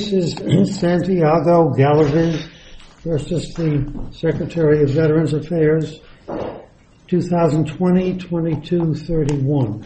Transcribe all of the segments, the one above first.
Santiago Galaviz v. Secretary of Veterans Affairs, 2020-22-31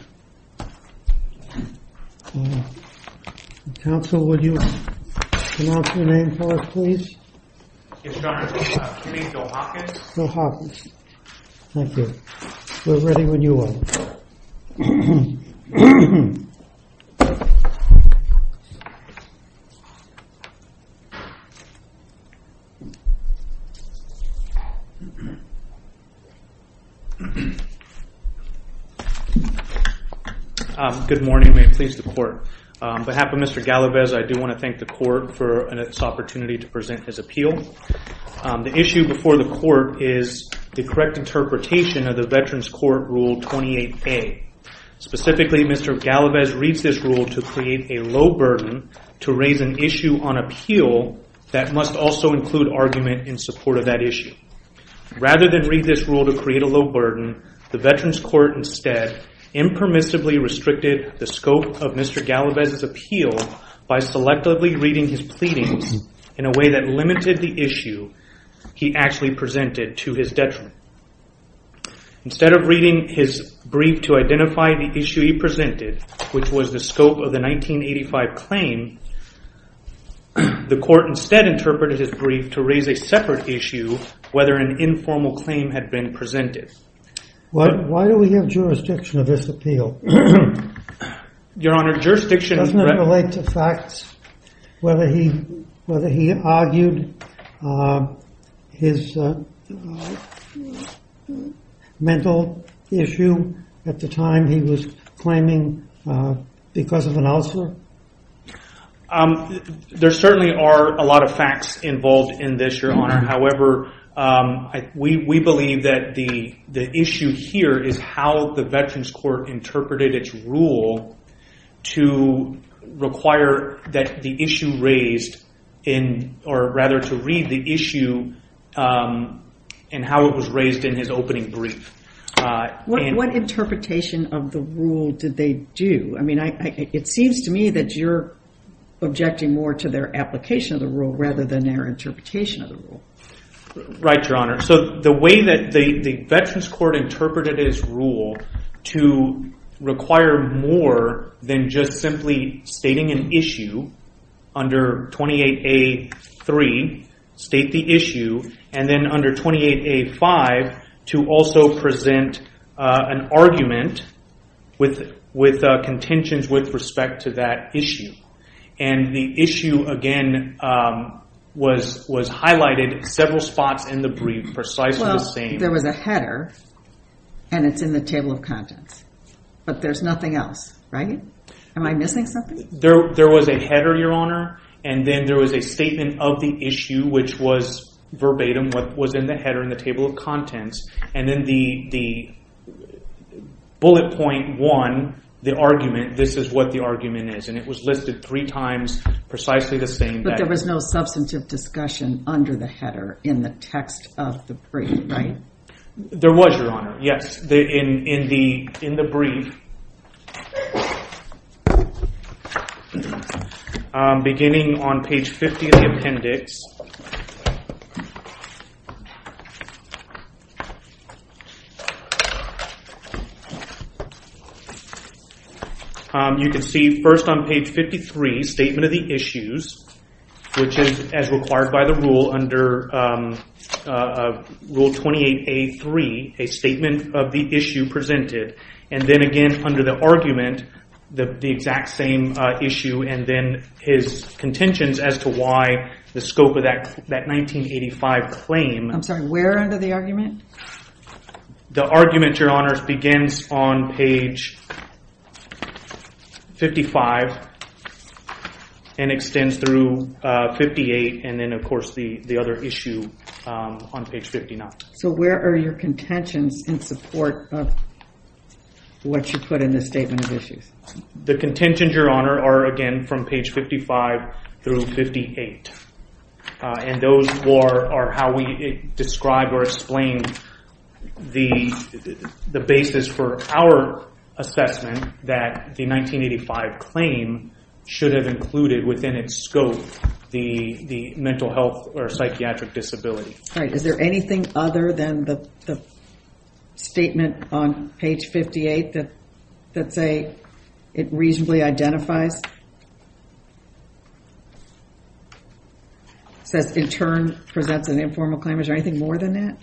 Good morning, may it please the court. On behalf of Mr. Galaviz, I do want to thank the court for this opportunity to present his appeal. The issue before the court is the correct interpretation of the Veterans Court Rule 28A. Specifically, Mr. Galaviz reads this rule to create a low burden to raise an issue on appeal that must also include argument in support of that issue. Rather than read this rule to create a low burden, the Veterans Court instead impermissibly restricted the scope of Mr. Galaviz's appeal by selectively reading his pleadings in a way that limited the issue he actually presented to his detriment. Instead of reading his brief to identify the issue he presented, which was the scope of the 1985 claim, the court instead interpreted his brief to raise a separate issue, whether an informal claim had been presented. Why do we have jurisdiction of this appeal? Your Honor, doesn't it relate to facts, whether he argued his mental issue at the time he was claiming because of an ulcer? There certainly are a lot of facts involved in this, Your Honor. However, we believe that the issue here is how the Veterans Court interpreted its rule to require that the issue raised in or rather to read the issue and how it was raised in his opening brief. What interpretation of the rule did they do? It seems to me that you're objecting more to their application of the rule rather than their interpretation of the rule. Right, Your Honor. The way that the Veterans Court interpreted its rule to require more than just simply stating an issue under 28A.3, state the issue, and then under 28A.5 to also present an argument with contentions with respect to that issue. The issue again was highlighted several spots in the brief precisely the same. There was a header and it's in the table of contents, but there's nothing else, right? Am I missing something? There was a header, Your Honor, and then there was a statement of the issue, which was verbatim what was in the header in the table of contents. Then the bullet point one, the argument, this is what the argument is. It was listed three times precisely the same. But there was no substantive discussion under the header in the text of the brief, right? There was, Your Honor, yes. In the brief beginning on page 50 of the appendix, you can see first on page 53, statement of the issues, which is as required by the rule under rule 28A3, a statement of the issue presented. Then again under the argument, the exact same issue and then his contentions as to why the scope of that 1985 claim. I'm sorry, where under the argument? The argument, Your Honor, begins on page 55 and extends through 58 and then of course the other issue on page 59. So where are your contentions in support of what you put in the statement of issues? The contentions, Your Honor, are again from page 55 through 58. Those are how we describe or explain the basis for our assessment that the 1985 claim should have included within its scope the mental health or psychiatric disability. All right. Is there anything other than the statement on page 58 that say it reasonably identifies? Says in turn presents an informal claim. Is there anything more than that?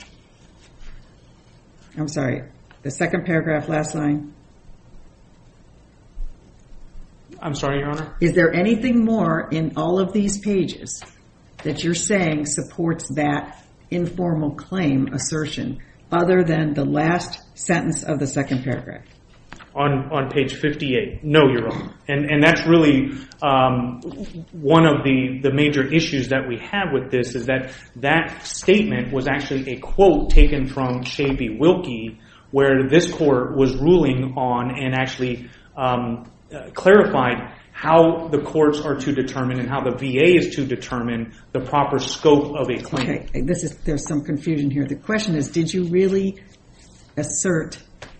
I'm sorry. The second paragraph, last line. I'm sorry, Your Honor. Is there anything more in all of these pages that you're saying supports that informal claim assertion other than the last sentence of the second paragraph? On page 58. No, Your Honor. And that's really one of the major issues that we have with this is that that statement was actually a quote taken from Shea B. Wilkie where this court was ruling on and actually clarified how the courts are to determine and how the VA is to determine the proper scope of a claim. Okay. There's some confusion here. The question is did you really assert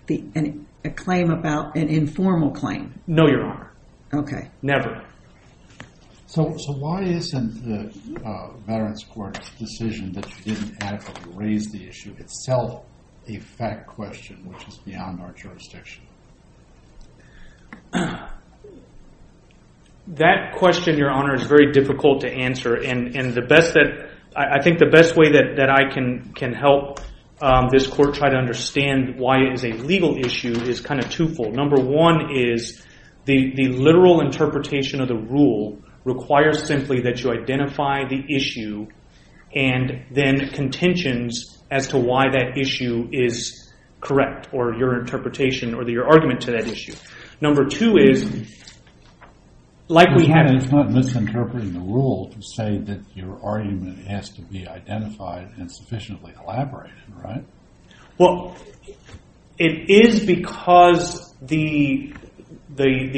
a claim about an informal claim? No, Your Honor. Okay. Never. So why isn't the Veterans Court's decision that you didn't adequately raise the issue itself a fact question which is beyond our jurisdiction? That question, Your Honor, is very difficult to answer. And I think the best way that I can help this court try to understand why it is a legal issue is kind of twofold. Number one is the literal interpretation of the rule requires simply that you identify the issue and then contentions as to why that issue is correct or your interpretation or your argument to that issue. Number two is like we have... Your Honor, it's not misinterpreting the rule to say that your argument has to be identified and sufficiently elaborated, right? Well, it is because the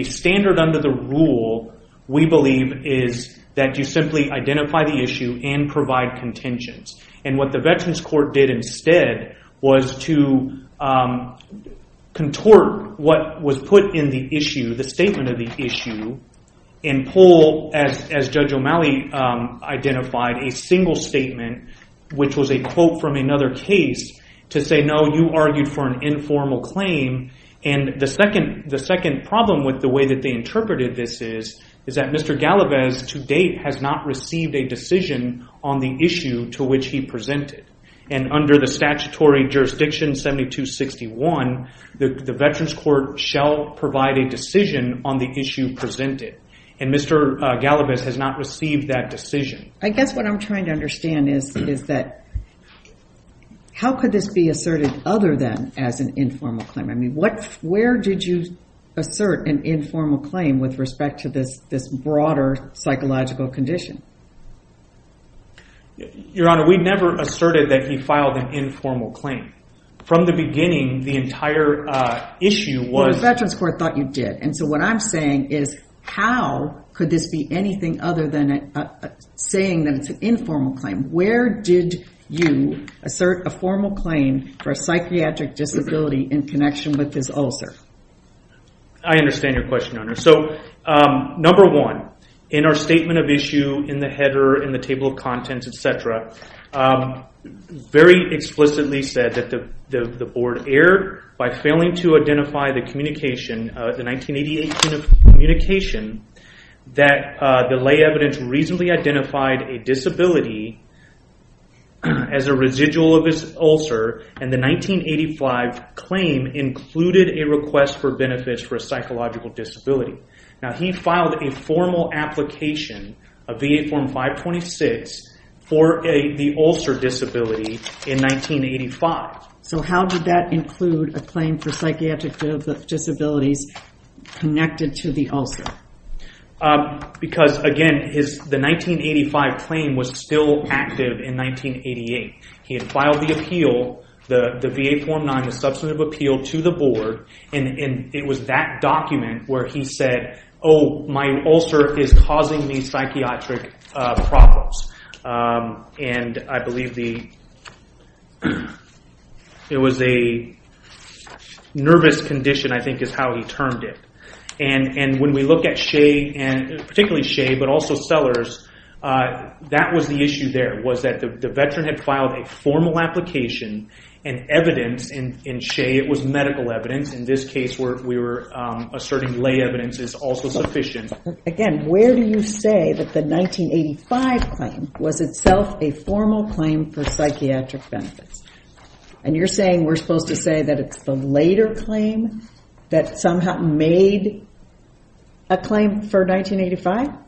standard under the rule we believe is that you simply identify the issue and provide contentions. And what the Veterans Court did instead was to contort what was put in the issue, the statement of the issue, and pull as Judge O'Malley identified a single statement which was a quote from another case to say, no, you argued for an informal claim. And the second problem with the way that they interpreted this is that Mr. Galavez to date has not received a decision on the issue to which he presented. And under the statutory jurisdiction 7261, the Veterans Court shall provide a decision on the issue presented. And Mr. Galavez has not received that decision. I guess what I'm trying to understand is that how could this be asserted other than as an informal claim? I mean, where did you broader psychological condition? Your Honor, we never asserted that he filed an informal claim. From the beginning, the entire issue was... Well, the Veterans Court thought you did. And so what I'm saying is how could this be anything other than saying that it's an informal claim? Where did you assert a formal claim for a psychiatric disability in connection with this one? In our statement of issue, in the header, in the table of contents, etc., very explicitly said that the Board erred by failing to identify the communication, the 1988 communication, that the lay evidence reasonably identified a disability as a residual of his ulcer. And the 1985 claim included a request for benefits for a psychological disability. Now, he filed a formal application, a VA Form 526, for the ulcer disability in 1985. So how did that include a claim for psychiatric disabilities connected to the ulcer? Because, again, the 1985 claim was still active in 1988. He had filed the appeal, the VA Form 9, substantive appeal to the Board. And it was that document where he said, oh, my ulcer is causing me psychiatric problems. And I believe it was a nervous condition, I think is how he termed it. And when we look at Shea, particularly Shea, but also Sellers, that was the issue there, was that the Veteran had filed a formal application and evidence in Shea, it was medical evidence. In this case, we were asserting lay evidence is also sufficient. Again, where do you say that the 1985 claim was itself a formal claim for psychiatric benefits? And you're saying we're supposed to say that it's the later claim that somehow made a claim for 1985?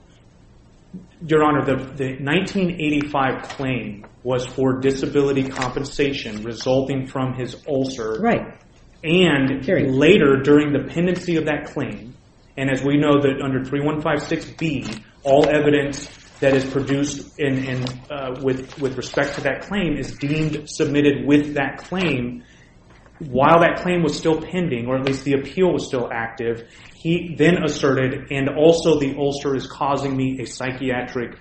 Your Honor, the 1985 claim was for disability compensation resulting from his ulcer. And later, during the pendency of that claim, and as we know that under 3156B, all evidence that is produced with respect to that claim is deemed submitted with that claim. While that claim was still pending, or at least the appeal was still active, he then asserted, and also the ulcer is causing me a psychiatric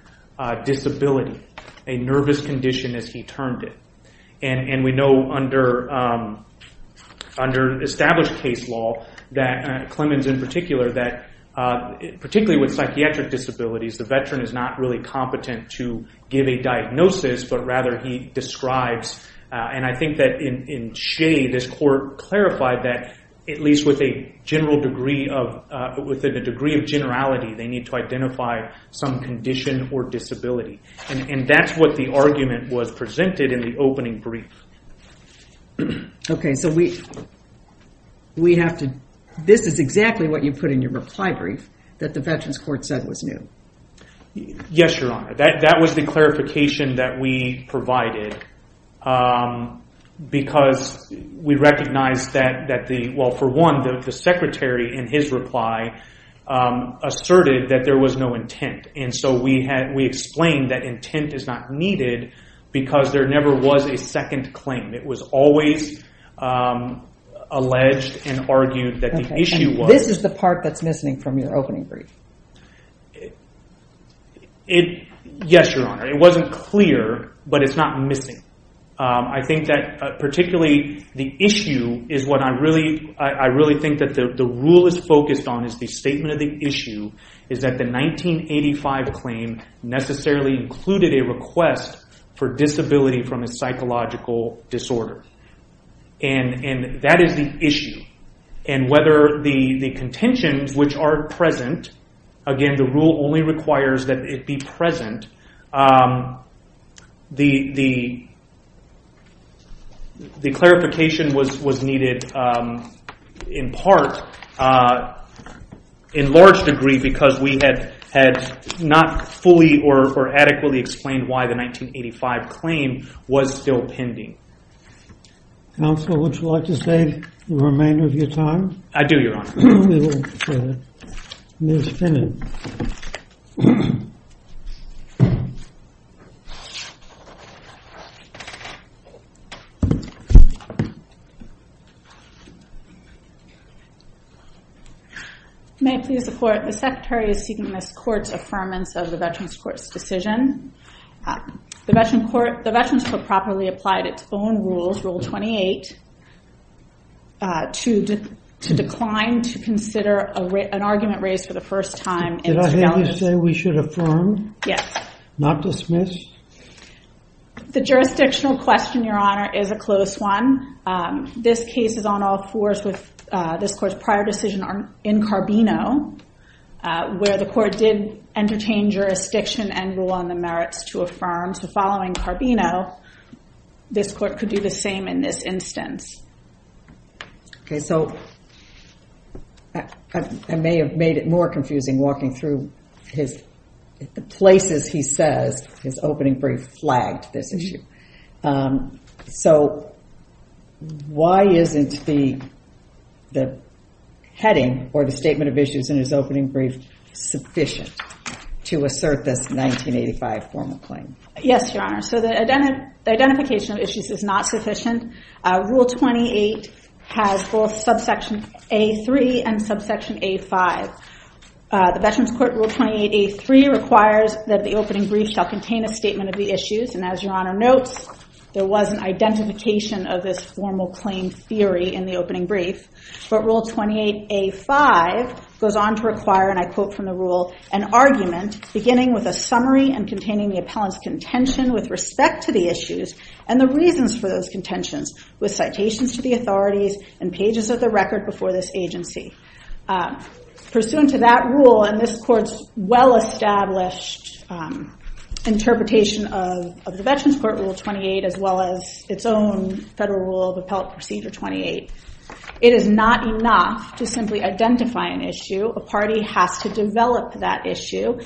disability, a nervous condition as he termed it. And we know under established case law, that Clemens in particular, that particularly with psychiatric disabilities, the Veteran is not really competent to give a diagnosis, but rather he describes, and I think that in Shea, this court clarified that at least with a general degree of, with a degree of generality, they need to identify some condition or disability. And that's what the argument was presented in the opening brief. Okay, so we have to, this is exactly what you put in your reply brief, that the Veterans Court said was new. Yes, Your Honor. That was the clarification that we provided, because we recognized that the, well for one, the secretary in his reply asserted that there was no intent. And so we had, we explained that intent is not needed, because there never was a second claim. It was always alleged and argued that the issue was. This is the part that's missing from your opening brief. It, yes, Your Honor. It wasn't clear, but it's not missing. I think that particularly the issue is what I really, I really think that the rule is focused on is the statement of the issue, is that the 1985 claim necessarily included a request for disability from a psychological disorder. And that is the issue. And whether the contentions which are present, again the rule only requires that it be present, the clarification was needed in part, in large degree, because we had not fully or adequately explained why the 1985 claim was still pending. Counsel, would you like to save the remainder of your time? I do, Your Honor. May it please the court, the secretary is seeking this court's affirmance of the Veterans Properly Applied Its Own Rules, Rule 28, to decline to consider an argument raised for the first time. Did I hear you say we should affirm? Yes. Not dismiss? The jurisdictional question, Your Honor, is a close one. This case is on all fours with this court's prior decision in Carbino, where the court did entertain jurisdiction and rule on the merits to affirm. So following Carbino, this court could do the same in this instance. Okay, so I may have made it more confusing walking through the places he says his opening brief flagged this issue. So why isn't the heading or the statement of issues in his opening brief sufficient to assert this 1985 formal claim? Yes, Your Honor. So the identification of issues is not sufficient. Rule 28 has both subsection A3 and subsection A5. The Veterans Court Rule 28A3 requires that the opening brief shall contain a statement of the issues. And as Your Honor notes, there was an identification of this formal claim theory in the opening brief. But Rule 28A5 goes on to require, and I quote from the rule, an argument beginning with a summary and containing the appellant's contention with respect to the issues and the reasons for those contentions with citations to the authorities and pages of the record before this agency. Pursuant to that rule and this court's well-established interpretation of the Veterans Court Rule 28, as well as its own Federal Rule of Appellant Procedure 28, it is not enough to identify an issue. A party has to develop that issue.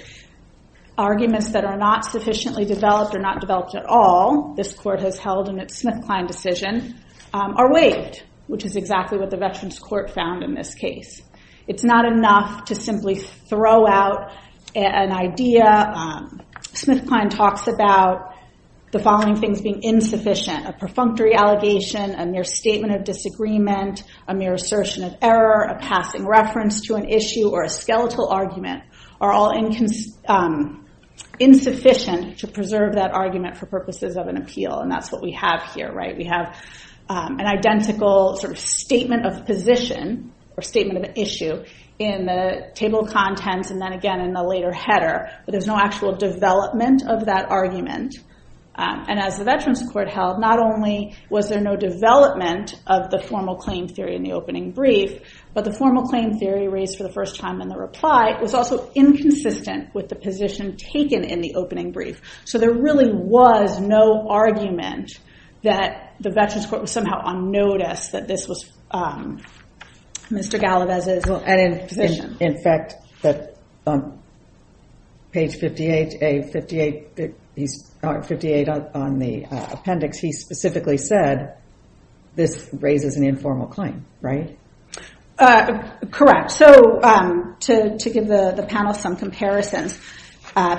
Arguments that are not sufficiently developed or not developed at all, this court has held in its SmithKline decision, are waived, which is exactly what the Veterans Court found in this case. It's not enough to simply throw out an idea. SmithKline talks about the following things being insufficient. A perfunctory allegation, a mere statement of disagreement, a mere assertion of error, a passing reference to an issue, or a skeletal argument are all insufficient to preserve that argument for purposes of an appeal. And that's what we have here, right? We have an identical sort of statement of position or statement of issue in the table of contents and then again in the later header. But there's no actual development of that argument. And as the Veterans Court held, not only was there no development of the formal claim theory in the opening brief, but the formal claim theory raised for the first time in the reply was also inconsistent with the position taken in the opening brief. So there really was no argument that the Veterans Court was somehow on notice that this was Mr. Galavez's position. In fact, on page 58 on the appendix, he specifically said, this raises an informal claim, right? Correct. So to give the panel some comparisons,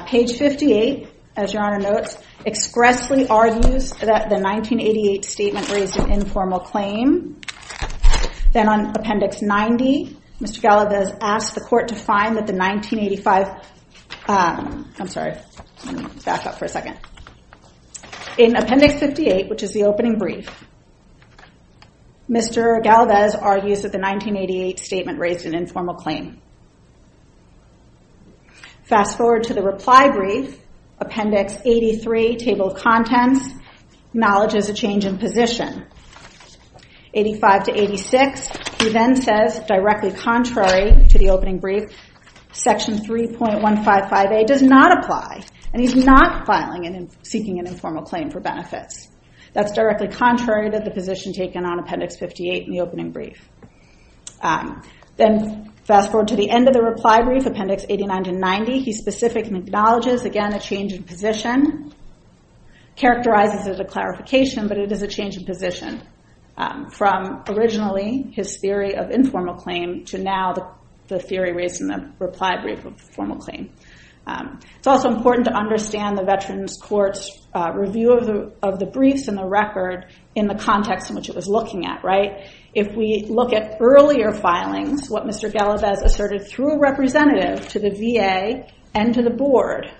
page 58, as your honor notes, expressly argues that the 1988 statement raised an informal claim. Then on appendix 90, Mr. Galavez asked the court to find that the 1985, I'm sorry, back up for a second. In appendix 58, which is the opening brief, Mr. Galavez argues that the 1988 statement raised an informal claim. Fast forward to the reply brief, appendix 83, table of contents, acknowledges a change in position. 85 to 86, he then says, directly contrary to the opening brief, section 3.155A does not apply. And he's not seeking an informal claim for benefits. That's directly contrary to the position taken on appendix 58 in the opening brief. Then fast forward to the end of the reply brief, appendix 89 to 90, he specifically acknowledges, again, a change in position, characterizes it as a clarification, but it is a change in position from originally his theory of informal claim to now the theory raised in the reply brief of formal claim. It's also important to understand the Veterans Court's review of the briefs and the record in the context in which it was looking at, right? If we look at earlier filings, what Mr. Galavez asserted through a representative to the VA and to the board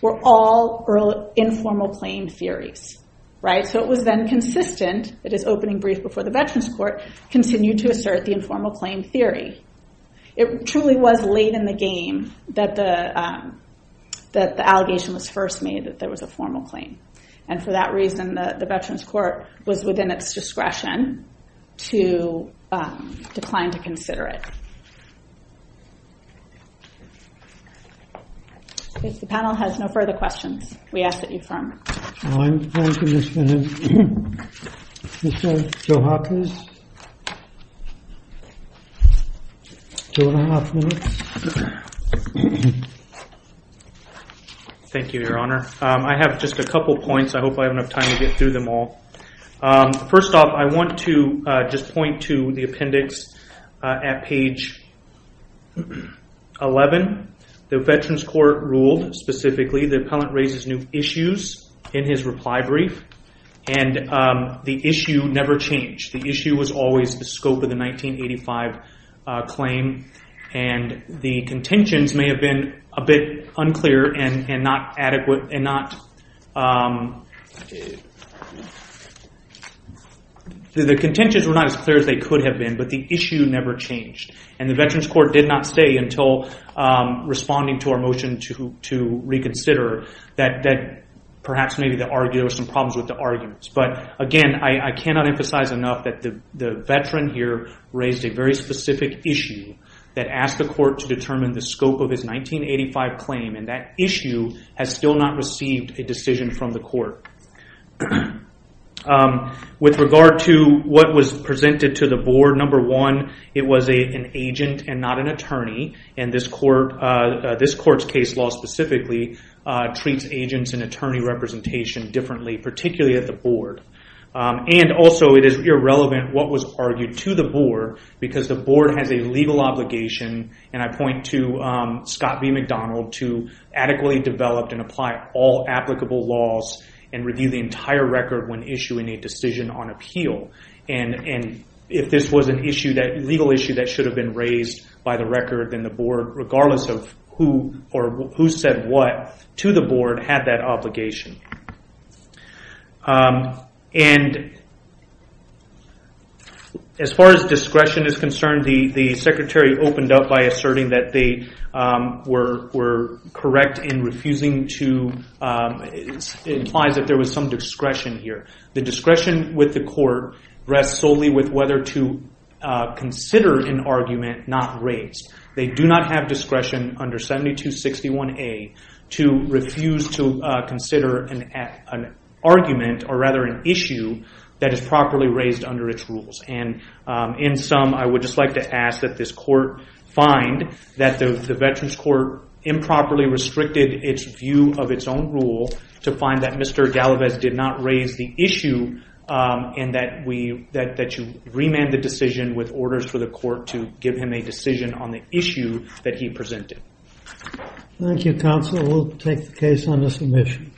were all informal claim theories, right? So it was then consistent, it is opening brief before the Veterans Court, continued to assert the informal claim theory. It truly was late in the game that the that the allegation was first made that there was a formal claim. And for that reason, the Veterans Court was within its discretion to decline to consider it. If the panel has no further questions, we ask that you firm. Thank you, Your Honor. I have just a couple points. I hope I have enough time to get through them all. First off, I want to just point to the appendix at page 11. The Veterans Court ruled specifically the appellant raises new issues in his reply brief. And the issue never changed. The issue was always the scope of the 1985 claim. And the contentions may have been a bit unclear and not adequate and not... The contentions were not as clear as they could have been, but the issue never changed. And the Veterans Court did not say until responding to our motion to reconsider that perhaps maybe there were some problems with the arguments. But again, I cannot emphasize enough that the veteran here raised a very specific issue that asked the court to determine the scope of his 1985 claim. And that issue has still not received a decision from the court. With regard to what was presented to the board, number one, it was an agent and not an attorney. And this court's case law specifically treats agents and attorney representation differently, particularly at the board. And also, it is irrelevant what was argued to the board, because the board has a legal obligation, and I point to Scott B. McDonald, to adequately develop and apply all applicable laws and review the entire record when issuing a decision on appeal. And if this was a legal issue that should have been raised by the record, then the board, regardless of who said what to the board, had that obligation. And as far as discretion is concerned, the secretary opened up by asserting that they were correct in refusing to... It implies that there was some discretion here. The discretion with the court rests solely with whether to consider an argument not raised. They do not have discretion under 7261A to refuse to consider an argument, or rather an issue, that is properly raised under its rules. And in sum, I would just like to ask that this court find that the Veterans Court improperly restricted its view of its own rule, to find that Mr. Galavez did not raise the issue, and that you remand the decision with orders for the court to give him a decision on the issue that he presented. Thank you, counsel. We'll take the case on the submission.